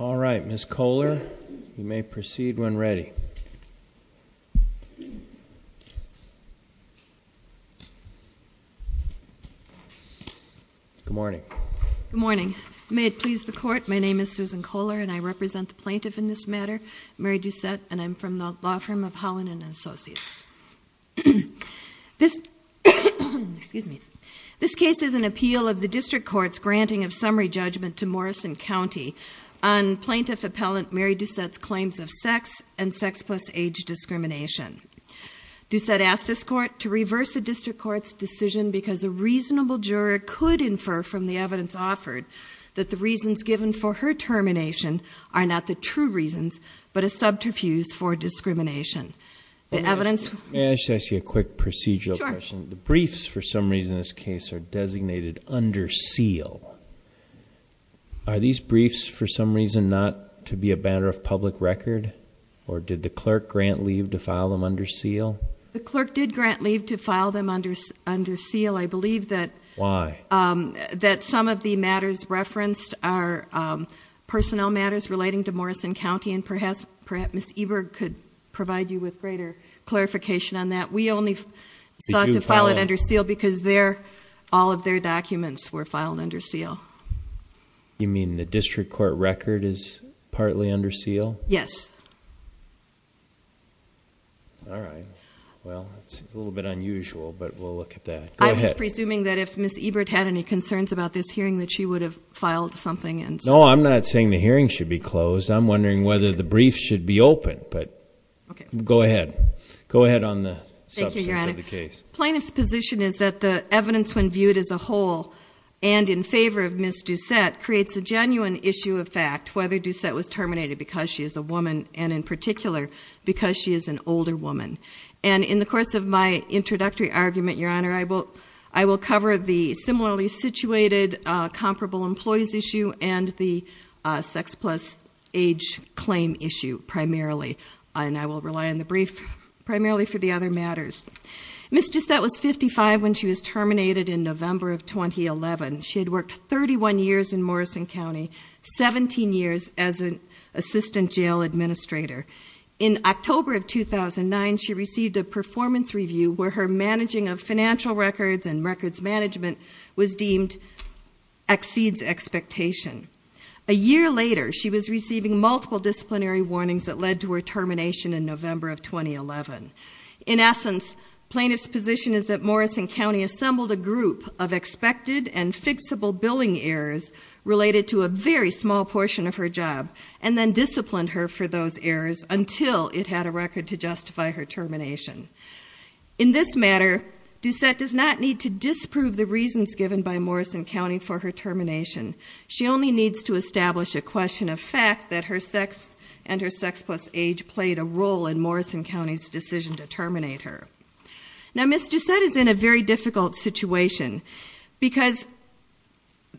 All right, Ms. Kohler, you may proceed when ready. Good morning. Good morning. May it please the court, my name is Susan Kohler and I represent the plaintiff in this matter, Mary Doucette, and I'm from the law firm of Holland & Associates. This case is an appeal of the district court's granting of summary judgment to Morrison County on plaintiff appellant Mary Doucette's claims of sex and sex plus age discrimination. Doucette asked this court to reverse the district court's decision because a reasonable juror could infer from the evidence offered that the reasons given for her termination are not the true reasons, but a subterfuge for discrimination. May I just ask you a quick procedural question? Sure. The briefs for some reason in this case are designated under seal. Are these briefs for some reason not to be a matter of public record? Or did the clerk grant leave to file them under seal? The clerk did grant leave to file them under seal. I believe that... Why? That some of the matters referenced are personnel matters relating to Morrison County, and perhaps Ms. Ebert could provide you with greater clarification on that. We only sought to file it under seal because all of their documents were filed under seal. You mean the district court record is partly under seal? Yes. All right. Well, it's a little bit unusual, but we'll look at that. Go ahead. I'm just presuming that if Ms. Ebert had any concerns about this hearing that she would have filed something. No, I'm not saying the hearing should be closed. I'm wondering whether the briefs should be open. Go ahead. Go ahead on the substance of the case. Thank you, Your Honor. Plaintiff's position is that the evidence when viewed as a whole and in favor of Ms. Doucette creates a genuine issue of fact, whether Doucette was terminated because she is a woman, and in particular because she is an older woman. And in the course of my introductory argument, Your Honor, I will cover the similarly situated comparable employees issue and the sex plus age claim issue primarily. And I will rely on the brief primarily for the other matters. Ms. Doucette was 55 when she was terminated in November of 2011. She had worked 31 years in Morrison County, 17 years as an assistant jail administrator. In October of 2009, she received a performance review where her managing of financial records and records management was deemed exceeds expectation. A year later, she was receiving multiple disciplinary warnings that led to her termination in November of 2011. In essence, plaintiff's position is that Morrison County assembled a group of expected and fixable billing errors related to a very small portion of her job. And then disciplined her for those errors until it had a record to justify her termination. In this matter, Doucette does not need to disprove the reasons given by Morrison County for her termination. She only needs to establish a question of fact that her sex and her sex plus age played a role in Morrison County's decision to terminate her. Now, Ms. Doucette is in a very difficult situation because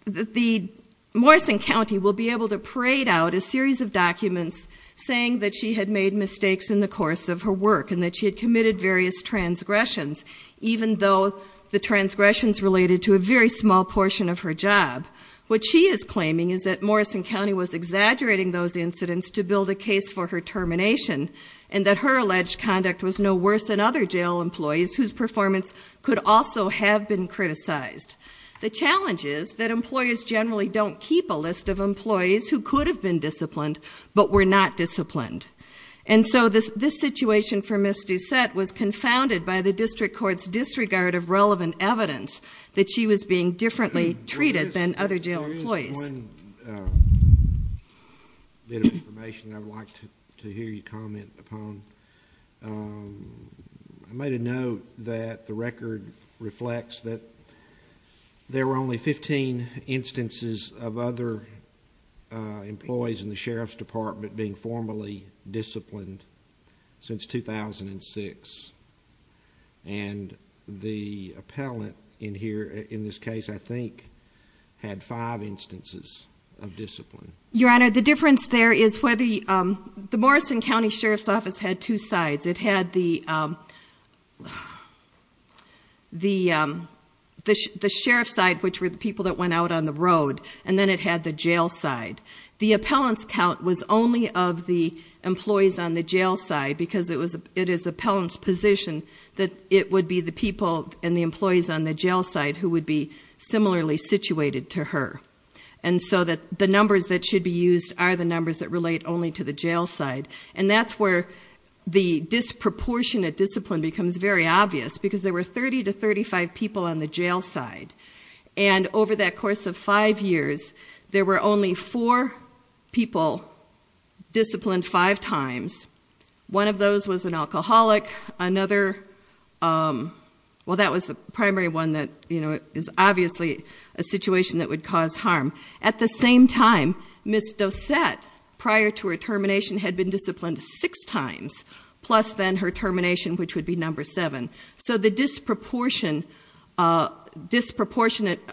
the Morrison County will be able to parade out a series of documents saying that she had made mistakes in the course of her work. And that she had committed various transgressions even though the transgressions related to a very small portion of her job. What she is claiming is that Morrison County was exaggerating those incidents to build a case for her termination. And that her alleged conduct was no worse than other jail employees whose performance could also have been criticized. The challenge is that employers generally don't keep a list of employees who could have been disciplined but were not disciplined. And so this situation for Ms. Doucette was confounded by the district court's disregard of relevant evidence. That she was being differently treated than other jail employees. There is one bit of information I would like to hear you comment upon. I made a note that the record reflects that there were only 15 instances of other employees in the Sheriff's Department being formally disciplined since 2006. And the appellant in here, in this case I think, had five instances of discipline. Your Honor, the difference there is where the Morrison County Sheriff's Office had two sides. It had the sheriff's side which were the people that went out on the road. And then it had the jail side. The appellant's count was only of the employees on the jail side. Because it is appellant's position that it would be the people and the employees on the jail side who would be similarly situated to her. And so the numbers that should be used are the numbers that relate only to the jail side. And that's where the disproportionate discipline becomes very obvious. Because there were 30 to 35 people on the jail side. And over that course of five years, there were only four people disciplined five times. One of those was an alcoholic, another, well, that was the primary one that is obviously a situation that would cause harm. At the same time, Ms. Dosette, prior to her termination, had been disciplined six times, plus then her termination, which would be number seven. So the disproportionate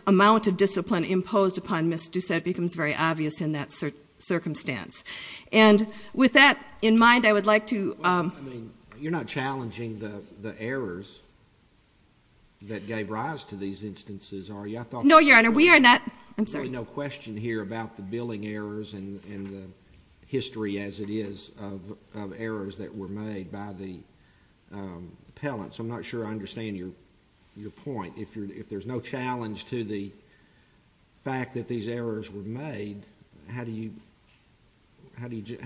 amount of discipline imposed upon Ms. Dosette becomes very obvious in that circumstance. And with that in mind, I would like to – Well, I mean, you're not challenging the errors that gave rise to these instances, are you? No, Your Honor, we are not. I'm sorry. There's really no question here about the billing errors and the history as it is of errors that were made by the appellants. I'm not sure I understand your point. If there's no challenge to the fact that these errors were made, how do you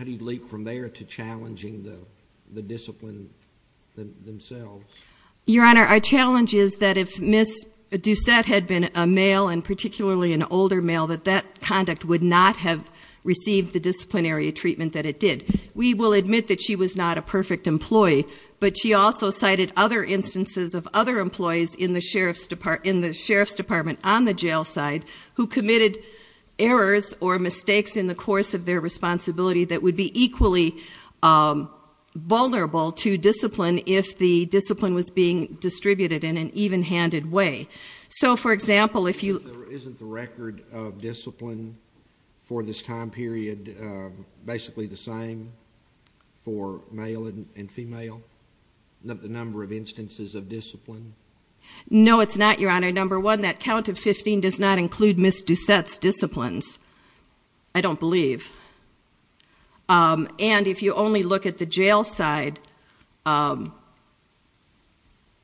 leap from there to challenging the discipline themselves? Your Honor, our challenge is that if Ms. Dosette had been a male, and particularly an older male, that that conduct would not have received the disciplinary treatment that it did. We will admit that she was not a perfect employee. But she also cited other instances of other employees in the sheriff's department on the jail side who committed errors or mistakes in the course of their responsibility that would be equally vulnerable to discipline if the discipline was being distributed in an even-handed way. So, for example, if you – Isn't the record of discipline for this time period basically the same for male and female, the number of instances of discipline? No, it's not, Your Honor. Number one, that count of 15 does not include Ms. Dosette's disciplines. I don't believe. And if you only look at the jail side,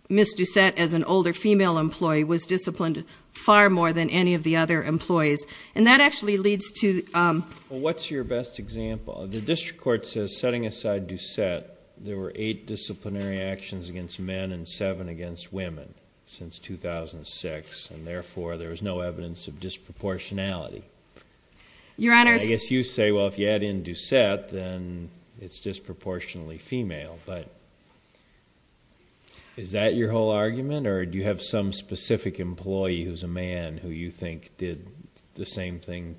Ms. Dosette, as an older female employee, was disciplined far more than any of the other employees. And that actually leads to – Well, what's your best example? The district court says, setting aside Dosette, there were eight disciplinary actions against men and seven against women since 2006, and therefore there is no evidence of disproportionality. Your Honor – I guess you say, well, if you add in Dosette, then it's disproportionately female, but is that your whole argument, or do you have some specific employee who's a man who you think did the same thing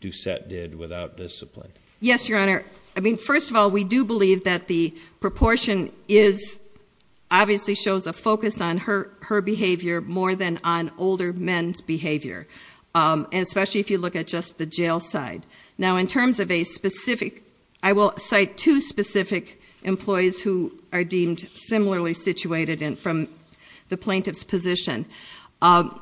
Dosette did without discipline? Yes, Your Honor. I mean, first of all, we do believe that the proportion is – obviously shows a focus on her behavior more than on older men's behavior, especially if you look at just the jail side. Now, in terms of a specific – I will cite two specific employees who are deemed similarly situated from the plaintiff's position. The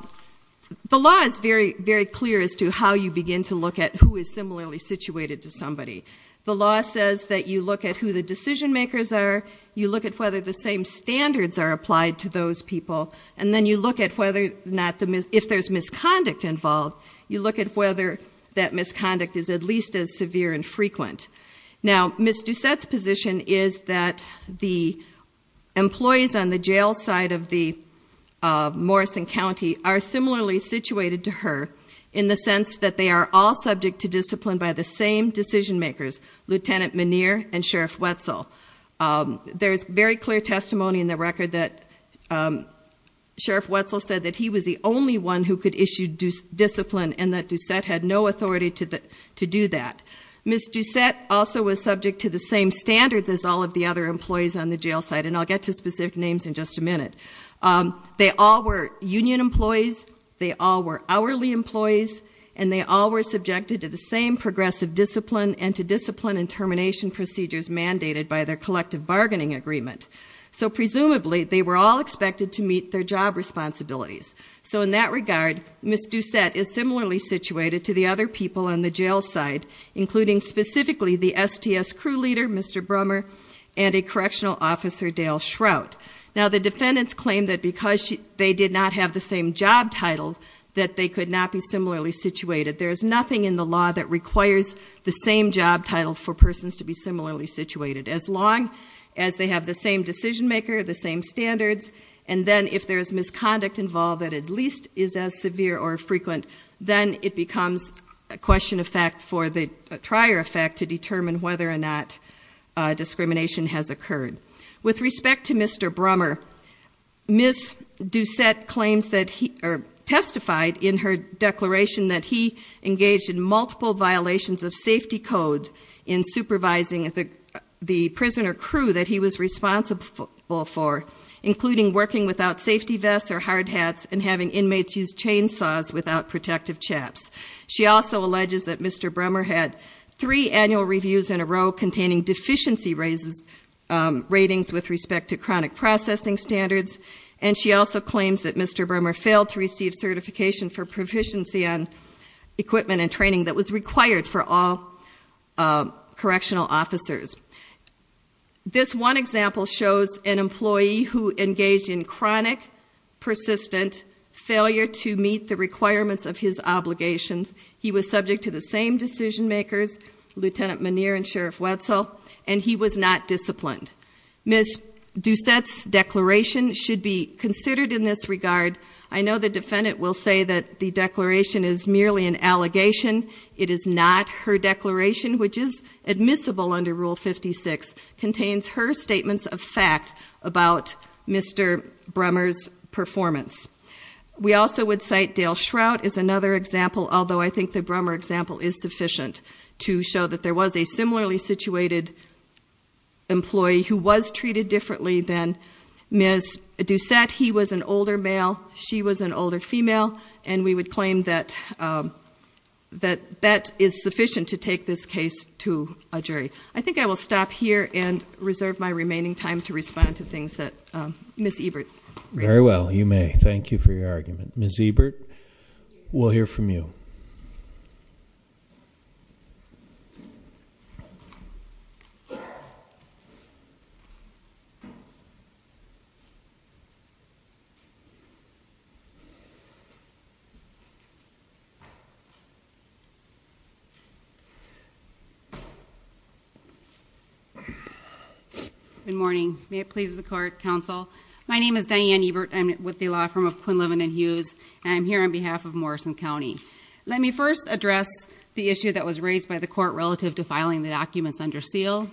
law is very clear as to how you begin to look at who is similarly situated to somebody. The law says that you look at who the decision makers are, you look at whether the same standards are applied to those people, and then you look at whether or not – if there's misconduct involved, you look at whether that misconduct is at least as severe and frequent. Now, Ms. Dosette's position is that the employees on the jail side of the Morrison County are similarly situated to her in the sense that they are all subject to discipline by the same decision makers, Lieutenant Meneer and Sheriff Wetzel. There is very clear testimony in the record that Sheriff Wetzel said that he was the only one who could issue discipline and that Dosette had no authority to do that. Ms. Dosette also was subject to the same standards as all of the other employees on the jail side, and I'll get to specific names in just a minute. They all were union employees, they all were hourly employees, and they all were subjected to the same progressive discipline and to discipline and termination procedures mandated by their collective bargaining agreement. So presumably, they were all expected to meet their job responsibilities. So in that regard, Ms. Dosette is similarly situated to the other people on the jail side, including specifically the STS crew leader, Mr. Brummer, and a correctional officer, Dale Shrout. Now, the defendants claim that because they did not have the same job title, that they could not be similarly situated. There is nothing in the law that requires the same job title for persons to be similarly situated. As long as they have the same decision maker, the same standards, and then if there is misconduct involved that at least is as severe or frequent, then it becomes a question of fact for the trier of fact to determine whether or not discrimination has occurred. With respect to Mr. Brummer, Ms. Dosette testified in her declaration that he engaged in multiple violations of safety code in supervising the prisoner crew that he was responsible for, including working without safety vests or hard hats and having inmates use chainsaws without protective chaps. She also alleges that Mr. Brummer had three annual reviews in a row containing deficiency ratings with respect to chronic processing standards. And she also claims that Mr. Brummer failed to receive certification for proficiency on equipment and training that was required for all correctional officers. This one example shows an employee who engaged in chronic, persistent failure to meet the requirements of his obligations. He was subject to the same decision makers, Lieutenant Menier and Sheriff Wetzel, and he was not disciplined. Ms. Dosette's declaration should be considered in this regard. I know the defendant will say that the declaration is merely an allegation. It is not. Her declaration, which is admissible under Rule 56, contains her statements of fact about Mr. Brummer's performance. We also would cite Dale Shrout as another example, although I think the Brummer example is sufficient to show that there was a similarly situated employee who was treated differently than Ms. Dosette. He was an older male. She was an older female. And we would claim that that is sufficient to take this case to a jury. I think I will stop here and reserve my remaining time to respond to things that Ms. Ebert raised. Very well, you may. Thank you for your argument. Ms. Ebert, we'll hear from you. Good morning. May it please the court, counsel. My name is Diane Ebert. I'm with the law firm of Quinlivan & Hughes, and I'm here on behalf of Morrison County. Let me first address the issue that was raised by the court relative to filing the documents under seal.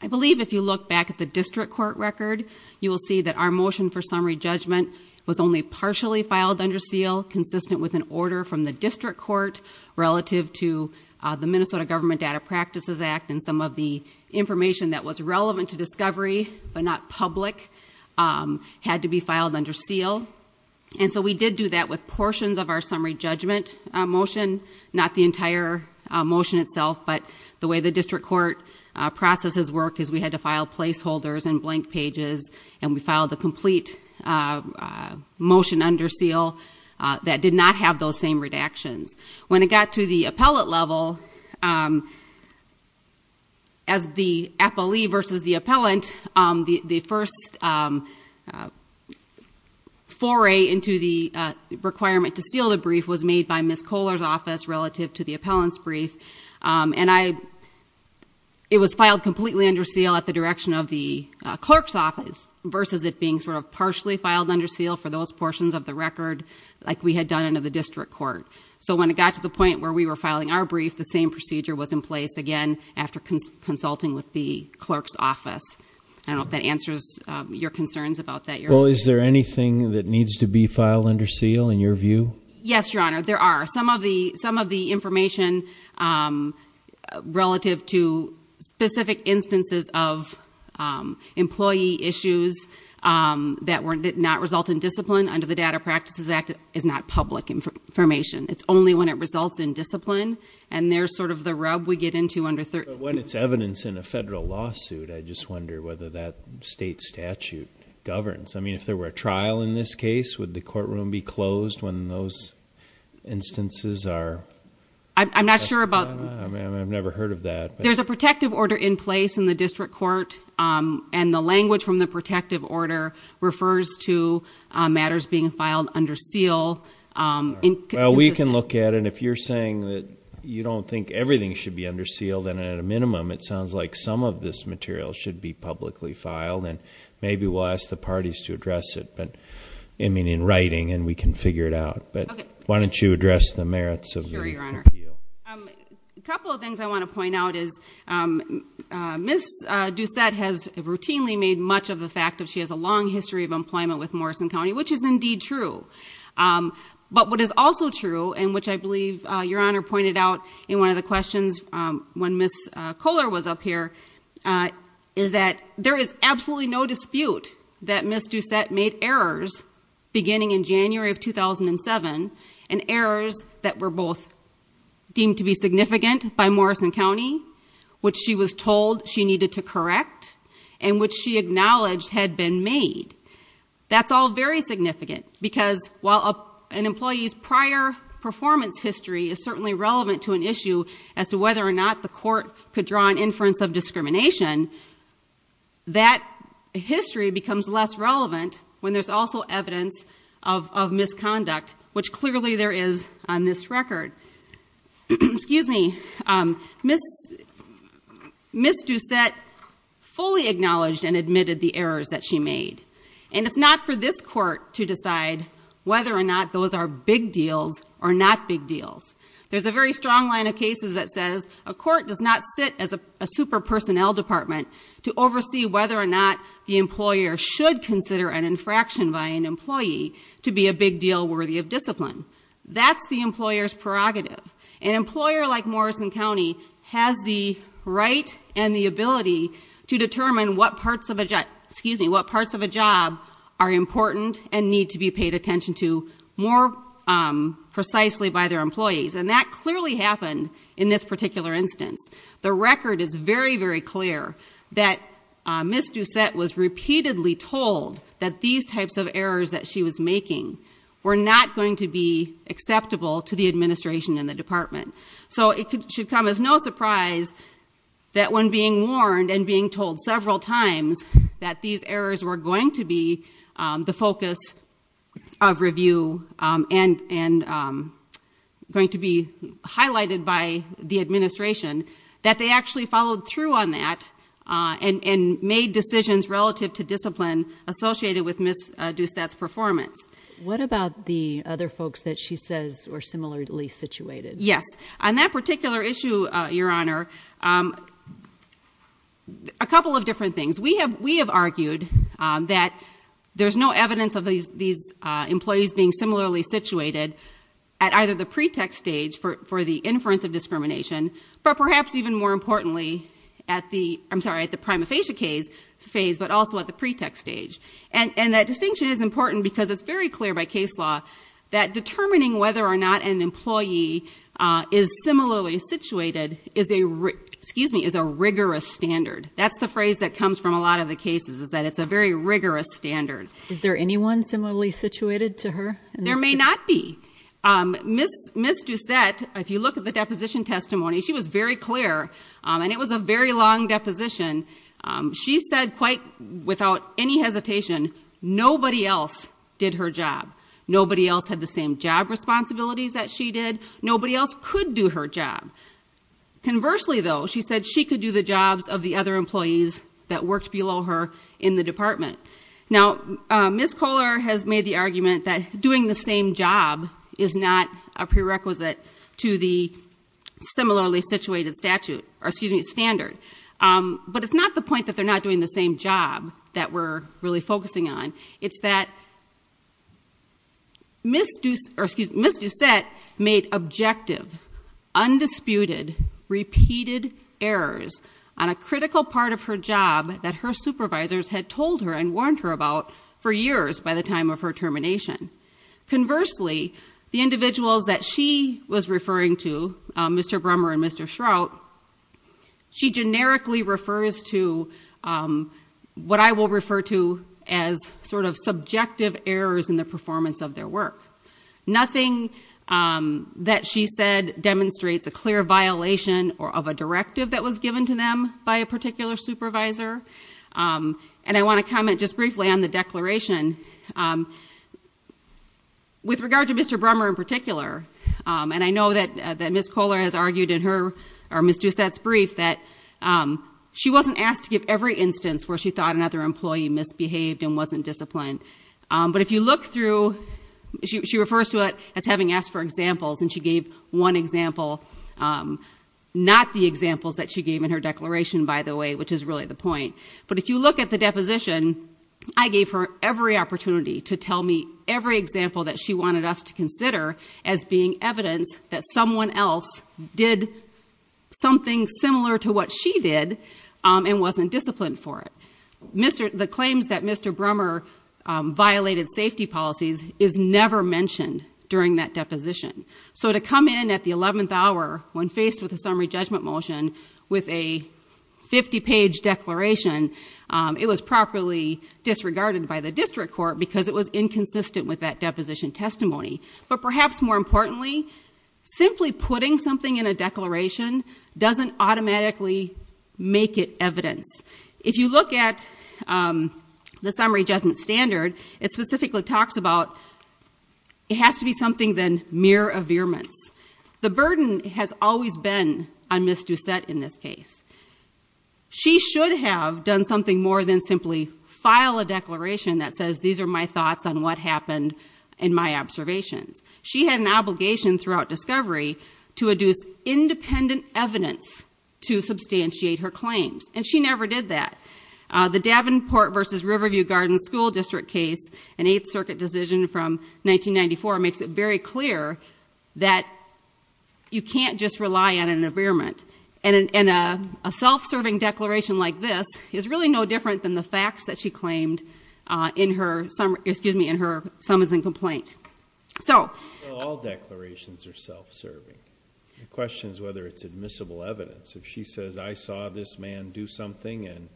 I believe if you look back at the district court record, you will see that our motion for summary judgment was only partially filed under seal, consistent with an order from the district court relative to the Minnesota Government Data Practices Act, and some of the information that was relevant to discovery but not public had to be filed under seal. And so we did do that with portions of our summary judgment motion, not the entire motion itself, but the way the district court processes work is we had to file placeholders and blank pages, and we filed the complete motion under seal that did not have those same redactions. When it got to the appellate level, as the appellee versus the appellant, the first foray into the requirement to seal the brief was made by Ms. Kohler's office relative to the appellant's brief, and it was filed completely under seal at the direction of the clerk's office versus it being sort of partially filed under seal for those portions of the record like we had done under the district court. So when it got to the point where we were filing our brief, the same procedure was in place again after consulting with the clerk's office. I don't know if that answers your concerns about that. Well, is there anything that needs to be filed under seal in your view? Yes, Your Honor, there are. Some of the information relative to specific instances of employee issues that did not result in discipline under the Data Practices Act is not public information. It's only when it results in discipline, and there's sort of the rub we get into under 30. But when it's evidence in a federal lawsuit, I just wonder whether that state statute governs. I mean, if there were a trial in this case, would the courtroom be closed when those instances are? I'm not sure about that. I mean, I've never heard of that. There's a protective order in place in the district court, and the language from the protective order refers to matters being filed under seal. Well, we can look at it. If you're saying that you don't think everything should be under seal, then at a minimum it sounds like some of this material should be publicly filed, and maybe we'll ask the parties to address it in writing, and we can figure it out. But why don't you address the merits of the appeal? Sure, Your Honor. A couple of things I want to point out is Ms. Doucette has routinely made much of the fact that she has a long history of employment with Morrison County, which is indeed true. But what is also true, and which I believe Your Honor pointed out in one of the questions when Ms. Kohler was up here, is that there is absolutely no dispute that Ms. Doucette made errors beginning in January of 2007, and errors that were both deemed to be significant by Morrison County, which she was told she needed to correct, and which she acknowledged had been made. That's all very significant, because while an employee's prior performance history is certainly relevant to an issue as to whether or not the court could draw an inference of discrimination, that history becomes less relevant when there's also evidence of misconduct, which clearly there is on this record. Excuse me. Ms. Doucette fully acknowledged and admitted the errors that she made. And it's not for this court to decide whether or not those are big deals or not big deals. There's a very strong line of cases that says a court does not sit as a super personnel department to oversee whether or not the employer should consider an infraction by an employee to be a big deal worthy of discipline. That's the employer's prerogative. An employer like Morrison County has the right and the ability to determine what parts of a job are important and need to be paid attention to more precisely by their employees. And that clearly happened in this particular instance. The record is very, very clear that Ms. Doucette was repeatedly told that these types of errors that she was making were not going to be acceptable to the administration and the department. So it should come as no surprise that when being warned and being told several times that these errors were going to be the focus of review and going to be highlighted by the administration, that they actually followed through on that and made decisions relative to discipline associated with Ms. Doucette's performance. What about the other folks that she says were similarly situated? Yes. On that particular issue, Your Honor, a couple of different things. We have argued that there's no evidence of these employees being similarly situated at either the pre-tech stage for the inference of discrimination, but perhaps even more importantly at the prima facie phase but also at the pre-tech stage. And that distinction is important because it's very clear by case law that determining whether or not an employee is similarly situated is a rigorous standard. That's the phrase that comes from a lot of the cases is that it's a very rigorous standard. Is there anyone similarly situated to her? There may not be. Ms. Doucette, if you look at the deposition testimony, she was very clear, and it was a very long deposition. She said quite without any hesitation, nobody else did her job. Nobody else had the same job responsibilities that she did. Nobody else could do her job. Conversely, though, she said she could do the jobs of the other employees that worked below her in the department. Now, Ms. Kohler has made the argument that doing the same job is not a prerequisite to the similarly situated statute, or excuse me, standard. But it's not the point that they're not doing the same job that we're really focusing on. It's that Ms. Doucette made objective, undisputed, repeated errors on a critical part of her job that her supervisors had told her and warned her about for years by the time of her termination. Conversely, the individuals that she was referring to, Mr. Brummer and Mr. Shrout, she generically refers to what I will refer to as sort of subjective errors in the performance of their work. Nothing that she said demonstrates a clear violation of a directive that was given to them by a particular supervisor. And I want to comment just briefly on the declaration. With regard to Mr. Brummer in particular, and I know that Ms. Kohler has argued in her, or Ms. Doucette's brief, that she wasn't asked to give every instance where she thought another employee misbehaved and wasn't disciplined. But if you look through, she refers to it as having asked for examples, and she gave one example. Not the examples that she gave in her declaration, by the way, which is really the point. But if you look at the deposition, I gave her every opportunity to tell me every example that she wanted us to consider as being evidence that someone else did something similar to what she did and wasn't disciplined for it. The claims that Mr. Brummer violated safety policies is never mentioned during that deposition. So to come in at the 11th hour when faced with a summary judgment motion with a 50-page declaration, it was properly disregarded by the district court because it was inconsistent with that deposition testimony. But perhaps more importantly, simply putting something in a declaration doesn't automatically make it evidence. If you look at the summary judgment standard, it specifically talks about it has to be something than mere averments. The burden has always been on Ms. Doucette in this case. She should have done something more than simply file a declaration that says, these are my thoughts on what happened and my observations. She had an obligation throughout discovery to adduce independent evidence to substantiate her claims. And she never did that. The Davenport v. Riverview Gardens School District case, an Eighth Circuit decision from 1994, makes it very clear that you can't just rely on an averment. And a self-serving declaration like this is really no different than the facts that she claimed in her summons and complaint. All declarations are self-serving. The question is whether it's admissible evidence. If she says, I saw this man do something and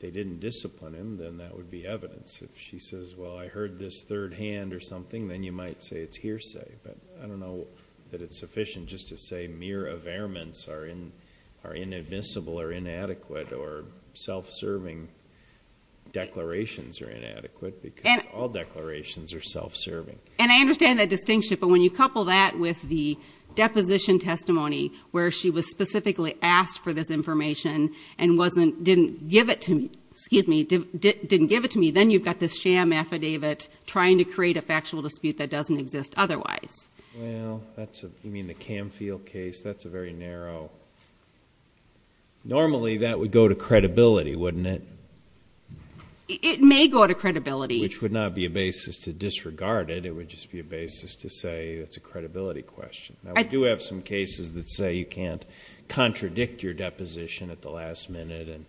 they didn't discipline him, then that would be evidence. If she says, well, I heard this third hand or something, then you might say it's hearsay. But I don't know that it's sufficient just to say mere averments are inadmissible or inadequate or self-serving declarations are inadequate because all declarations are self-serving. And I understand that distinction. But when you couple that with the deposition testimony where she was specifically asked for this information and didn't give it to me, then you've got this sham affidavit trying to create a factual dispute that doesn't exist otherwise. Well, you mean the Camfield case? That's a very narrow. Normally, that would go to credibility, wouldn't it? It may go to credibility. Which would not be a basis to disregard it. It would just be a basis to say it's a credibility question. I do have some cases that say you can't contradict your deposition at the last minute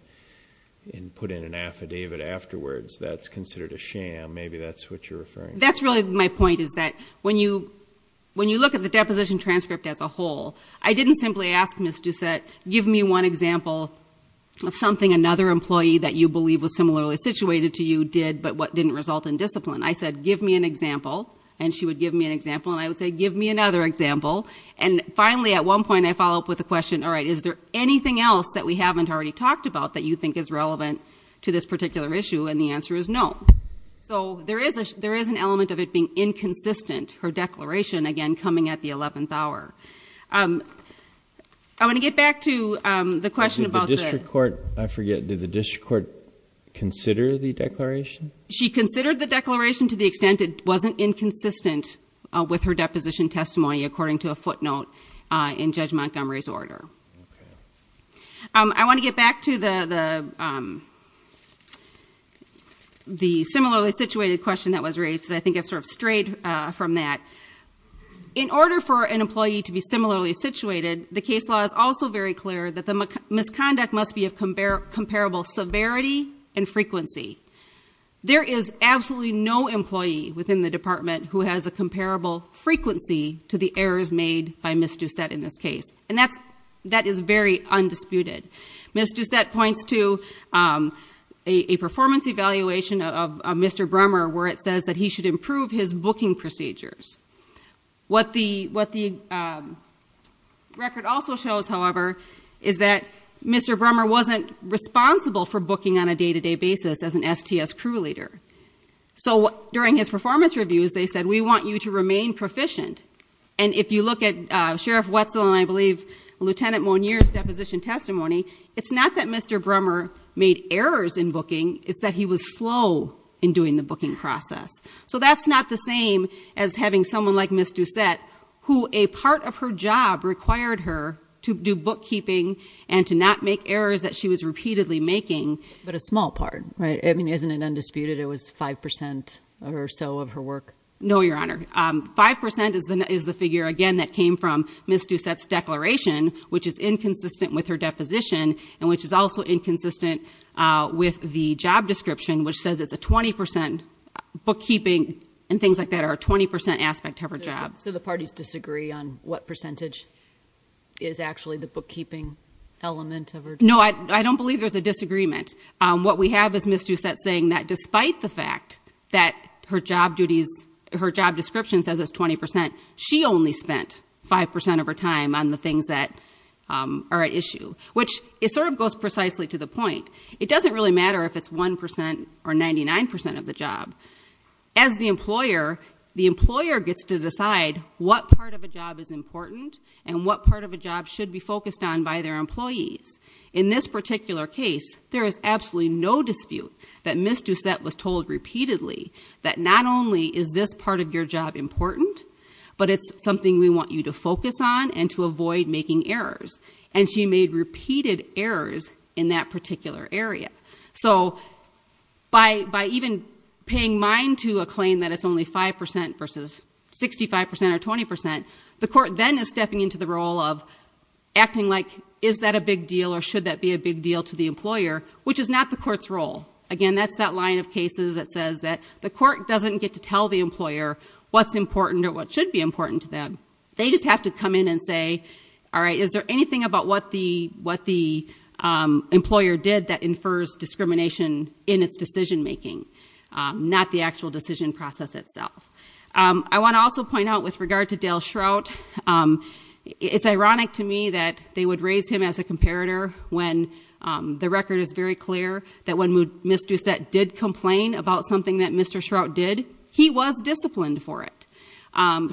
and put in an affidavit afterwards. That's considered a sham. Maybe that's what you're referring to. That's really my point is that when you look at the deposition transcript as a whole, I didn't simply ask Ms. Doucette, give me one example of something another employee that you believe was similarly situated to you did but what didn't result in discipline. I said, give me an example. And she would give me an example. And I would say, give me another example. And finally, at one point, I follow up with a question. All right, is there anything else that we haven't already talked about that you think is relevant to this particular issue? And the answer is no. So there is an element of it being inconsistent, her declaration, again, coming at the 11th hour. I want to get back to the question about the- Did the district court, I forget, did the district court consider the declaration? She considered the declaration to the extent it wasn't inconsistent with her deposition testimony according to a footnote in Judge Montgomery's order. Okay. I want to get back to the similarly situated question that was raised because I think I've sort of strayed from that. In order for an employee to be similarly situated, the case law is also very clear that the misconduct must be of comparable severity and frequency. There is absolutely no employee within the department who has a comparable frequency to the errors made by Ms. Doucette in this case. And that is very undisputed. Ms. Doucette points to a performance evaluation of Mr. Brummer where it says that he should improve his booking procedures. What the record also shows, however, is that Mr. Brummer wasn't responsible for booking on a day-to-day basis as an STS crew leader. So during his performance reviews, they said, we want you to remain proficient. And if you look at Sheriff Wetzel and I believe Lieutenant Monier's deposition testimony, it's not that Mr. Brummer made errors in booking. It's that he was slow in doing the booking process. So that's not the same as having someone like Ms. Doucette who a part of her job required her to do bookkeeping and to not make errors that she was repeatedly making. But a small part, right? I mean, isn't it undisputed it was 5% or so of her work? No, Your Honor. 5% is the figure, again, that came from Ms. Doucette's declaration, which is inconsistent with her deposition, and which is also inconsistent with the job description, which says it's a 20% bookkeeping and things like that are a 20% aspect of her job. So the parties disagree on what percentage is actually the bookkeeping element of her job? No, I don't believe there's a disagreement. What we have is Ms. Doucette saying that despite the fact that her job description says it's 20%, she only spent 5% of her time on the things that are at issue, which it sort of goes precisely to the point. It doesn't really matter if it's 1% or 99% of the job. As the employer, the employer gets to decide what part of a job is important and what part of a job should be focused on by their employees. In this particular case, there is absolutely no dispute that Ms. Doucette was told repeatedly that not only is this part of your job important, but it's something we want you to focus on and to avoid making errors. And she made repeated errors in that particular area. So by even paying mind to a claim that it's only 5% versus 65% or 20%, the court then is stepping into the role of acting like, is that a big deal or should that be a big deal to the employer, which is not the court's role. Again, that's that line of cases that says that the court doesn't get to tell the employer what's important or what should be important to them. They just have to come in and say, all right, is there anything about what the employer did that infers discrimination in its decision making, not the actual decision process itself? I want to also point out, with regard to Dale Shrout, it's ironic to me that they would raise him as a comparator when the record is very clear that when Ms. Doucette did complain about something that Mr. Shrout did, he was disciplined for it.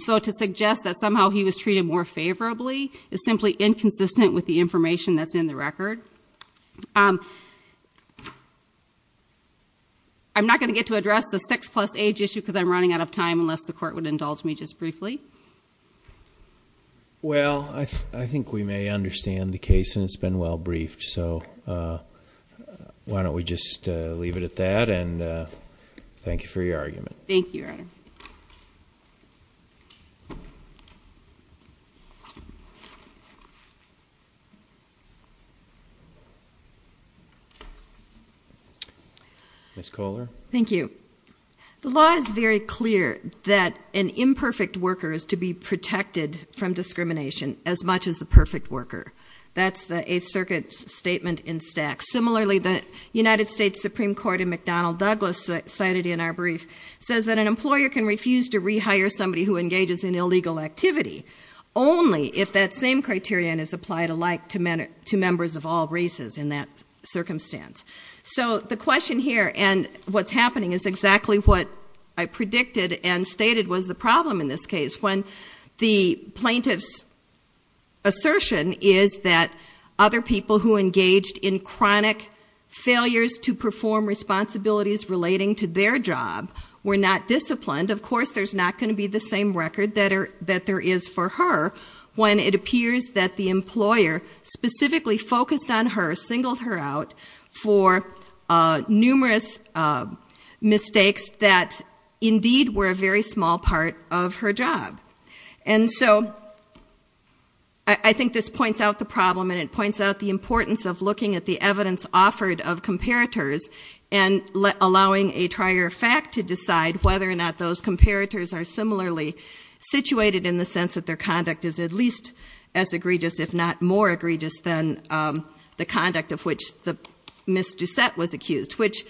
So to suggest that somehow he was treated more favorably is simply inconsistent with the information that's in the record. I'm not going to get to address the six plus age issue because I'm running out of time unless the court would indulge me just briefly. Well, I think we may understand the case and it's been well briefed. So why don't we just leave it at that and thank you for your argument. Thank you, Your Honor. Ms. Kohler. Thank you. The law is very clear that an imperfect worker is to be protected from discrimination as much as the perfect worker. That's a circuit statement in stack. Similarly, the United States Supreme Court in McDonnell Douglas cited in our brief says that an employer can refuse to rehire somebody who engages in illegal activity only if that same criterion is applied alike to members of all races in that circumstance. So the question here and what's happening is exactly what I predicted and stated was the problem in this case. When the plaintiff's assertion is that other people who engaged in chronic failures to perform responsibilities relating to their job were not disciplined, of course there's not going to be the same record that there is for her when it appears that the employer specifically focused on her, singled her out for numerous mistakes that indeed were a very small part of her job. And so I think this points out the problem and it points out the importance of looking at the evidence offered of comparators and allowing a trier fact to decide whether or not those comparators are similarly situated in the sense that their conduct is at least as egregious, if not more egregious than the conduct of which Ms. Doucette was accused, which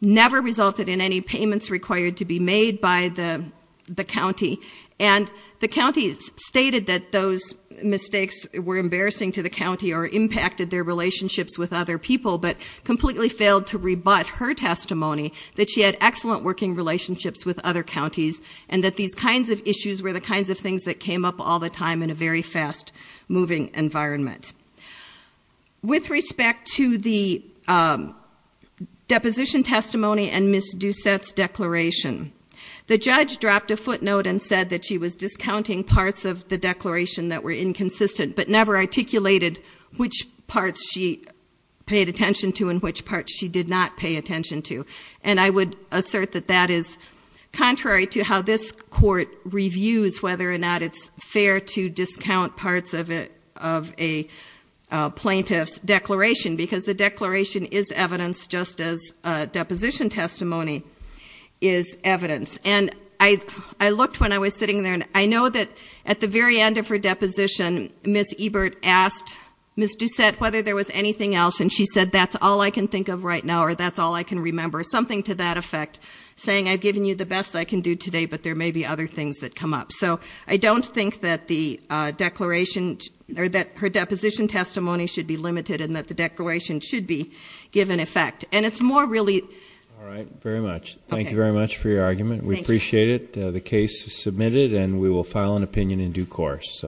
never resulted in any payments required to be made by the county. And the county stated that those mistakes were embarrassing to the county or impacted their relationships with other people, but completely failed to rebut her testimony that she had excellent working relationships with other counties and that these kinds of issues were the kinds of things that came up all the time in a very fast-moving environment. With respect to the deposition testimony and Ms. Doucette's declaration, the judge dropped a footnote and said that she was discounting parts of the declaration that were inconsistent but never articulated which parts she paid attention to and which parts she did not pay attention to. And I would assert that that is contrary to how this court reviews whether or not it's fair to discount parts of a plaintiff's declaration because the declaration is evidence just as a deposition testimony is evidence. And I looked when I was sitting there, and I know that at the very end of her deposition, Ms. Ebert asked Ms. Doucette whether there was anything else. And she said, that's all I can think of right now, or that's all I can remember. Something to that effect, saying I've given you the best I can do today, but there may be other things that come up. So I don't think that her deposition testimony should be limited and that the declaration should be given effect. And it's more really- We appreciate it. The case is submitted and we will file an opinion in due course.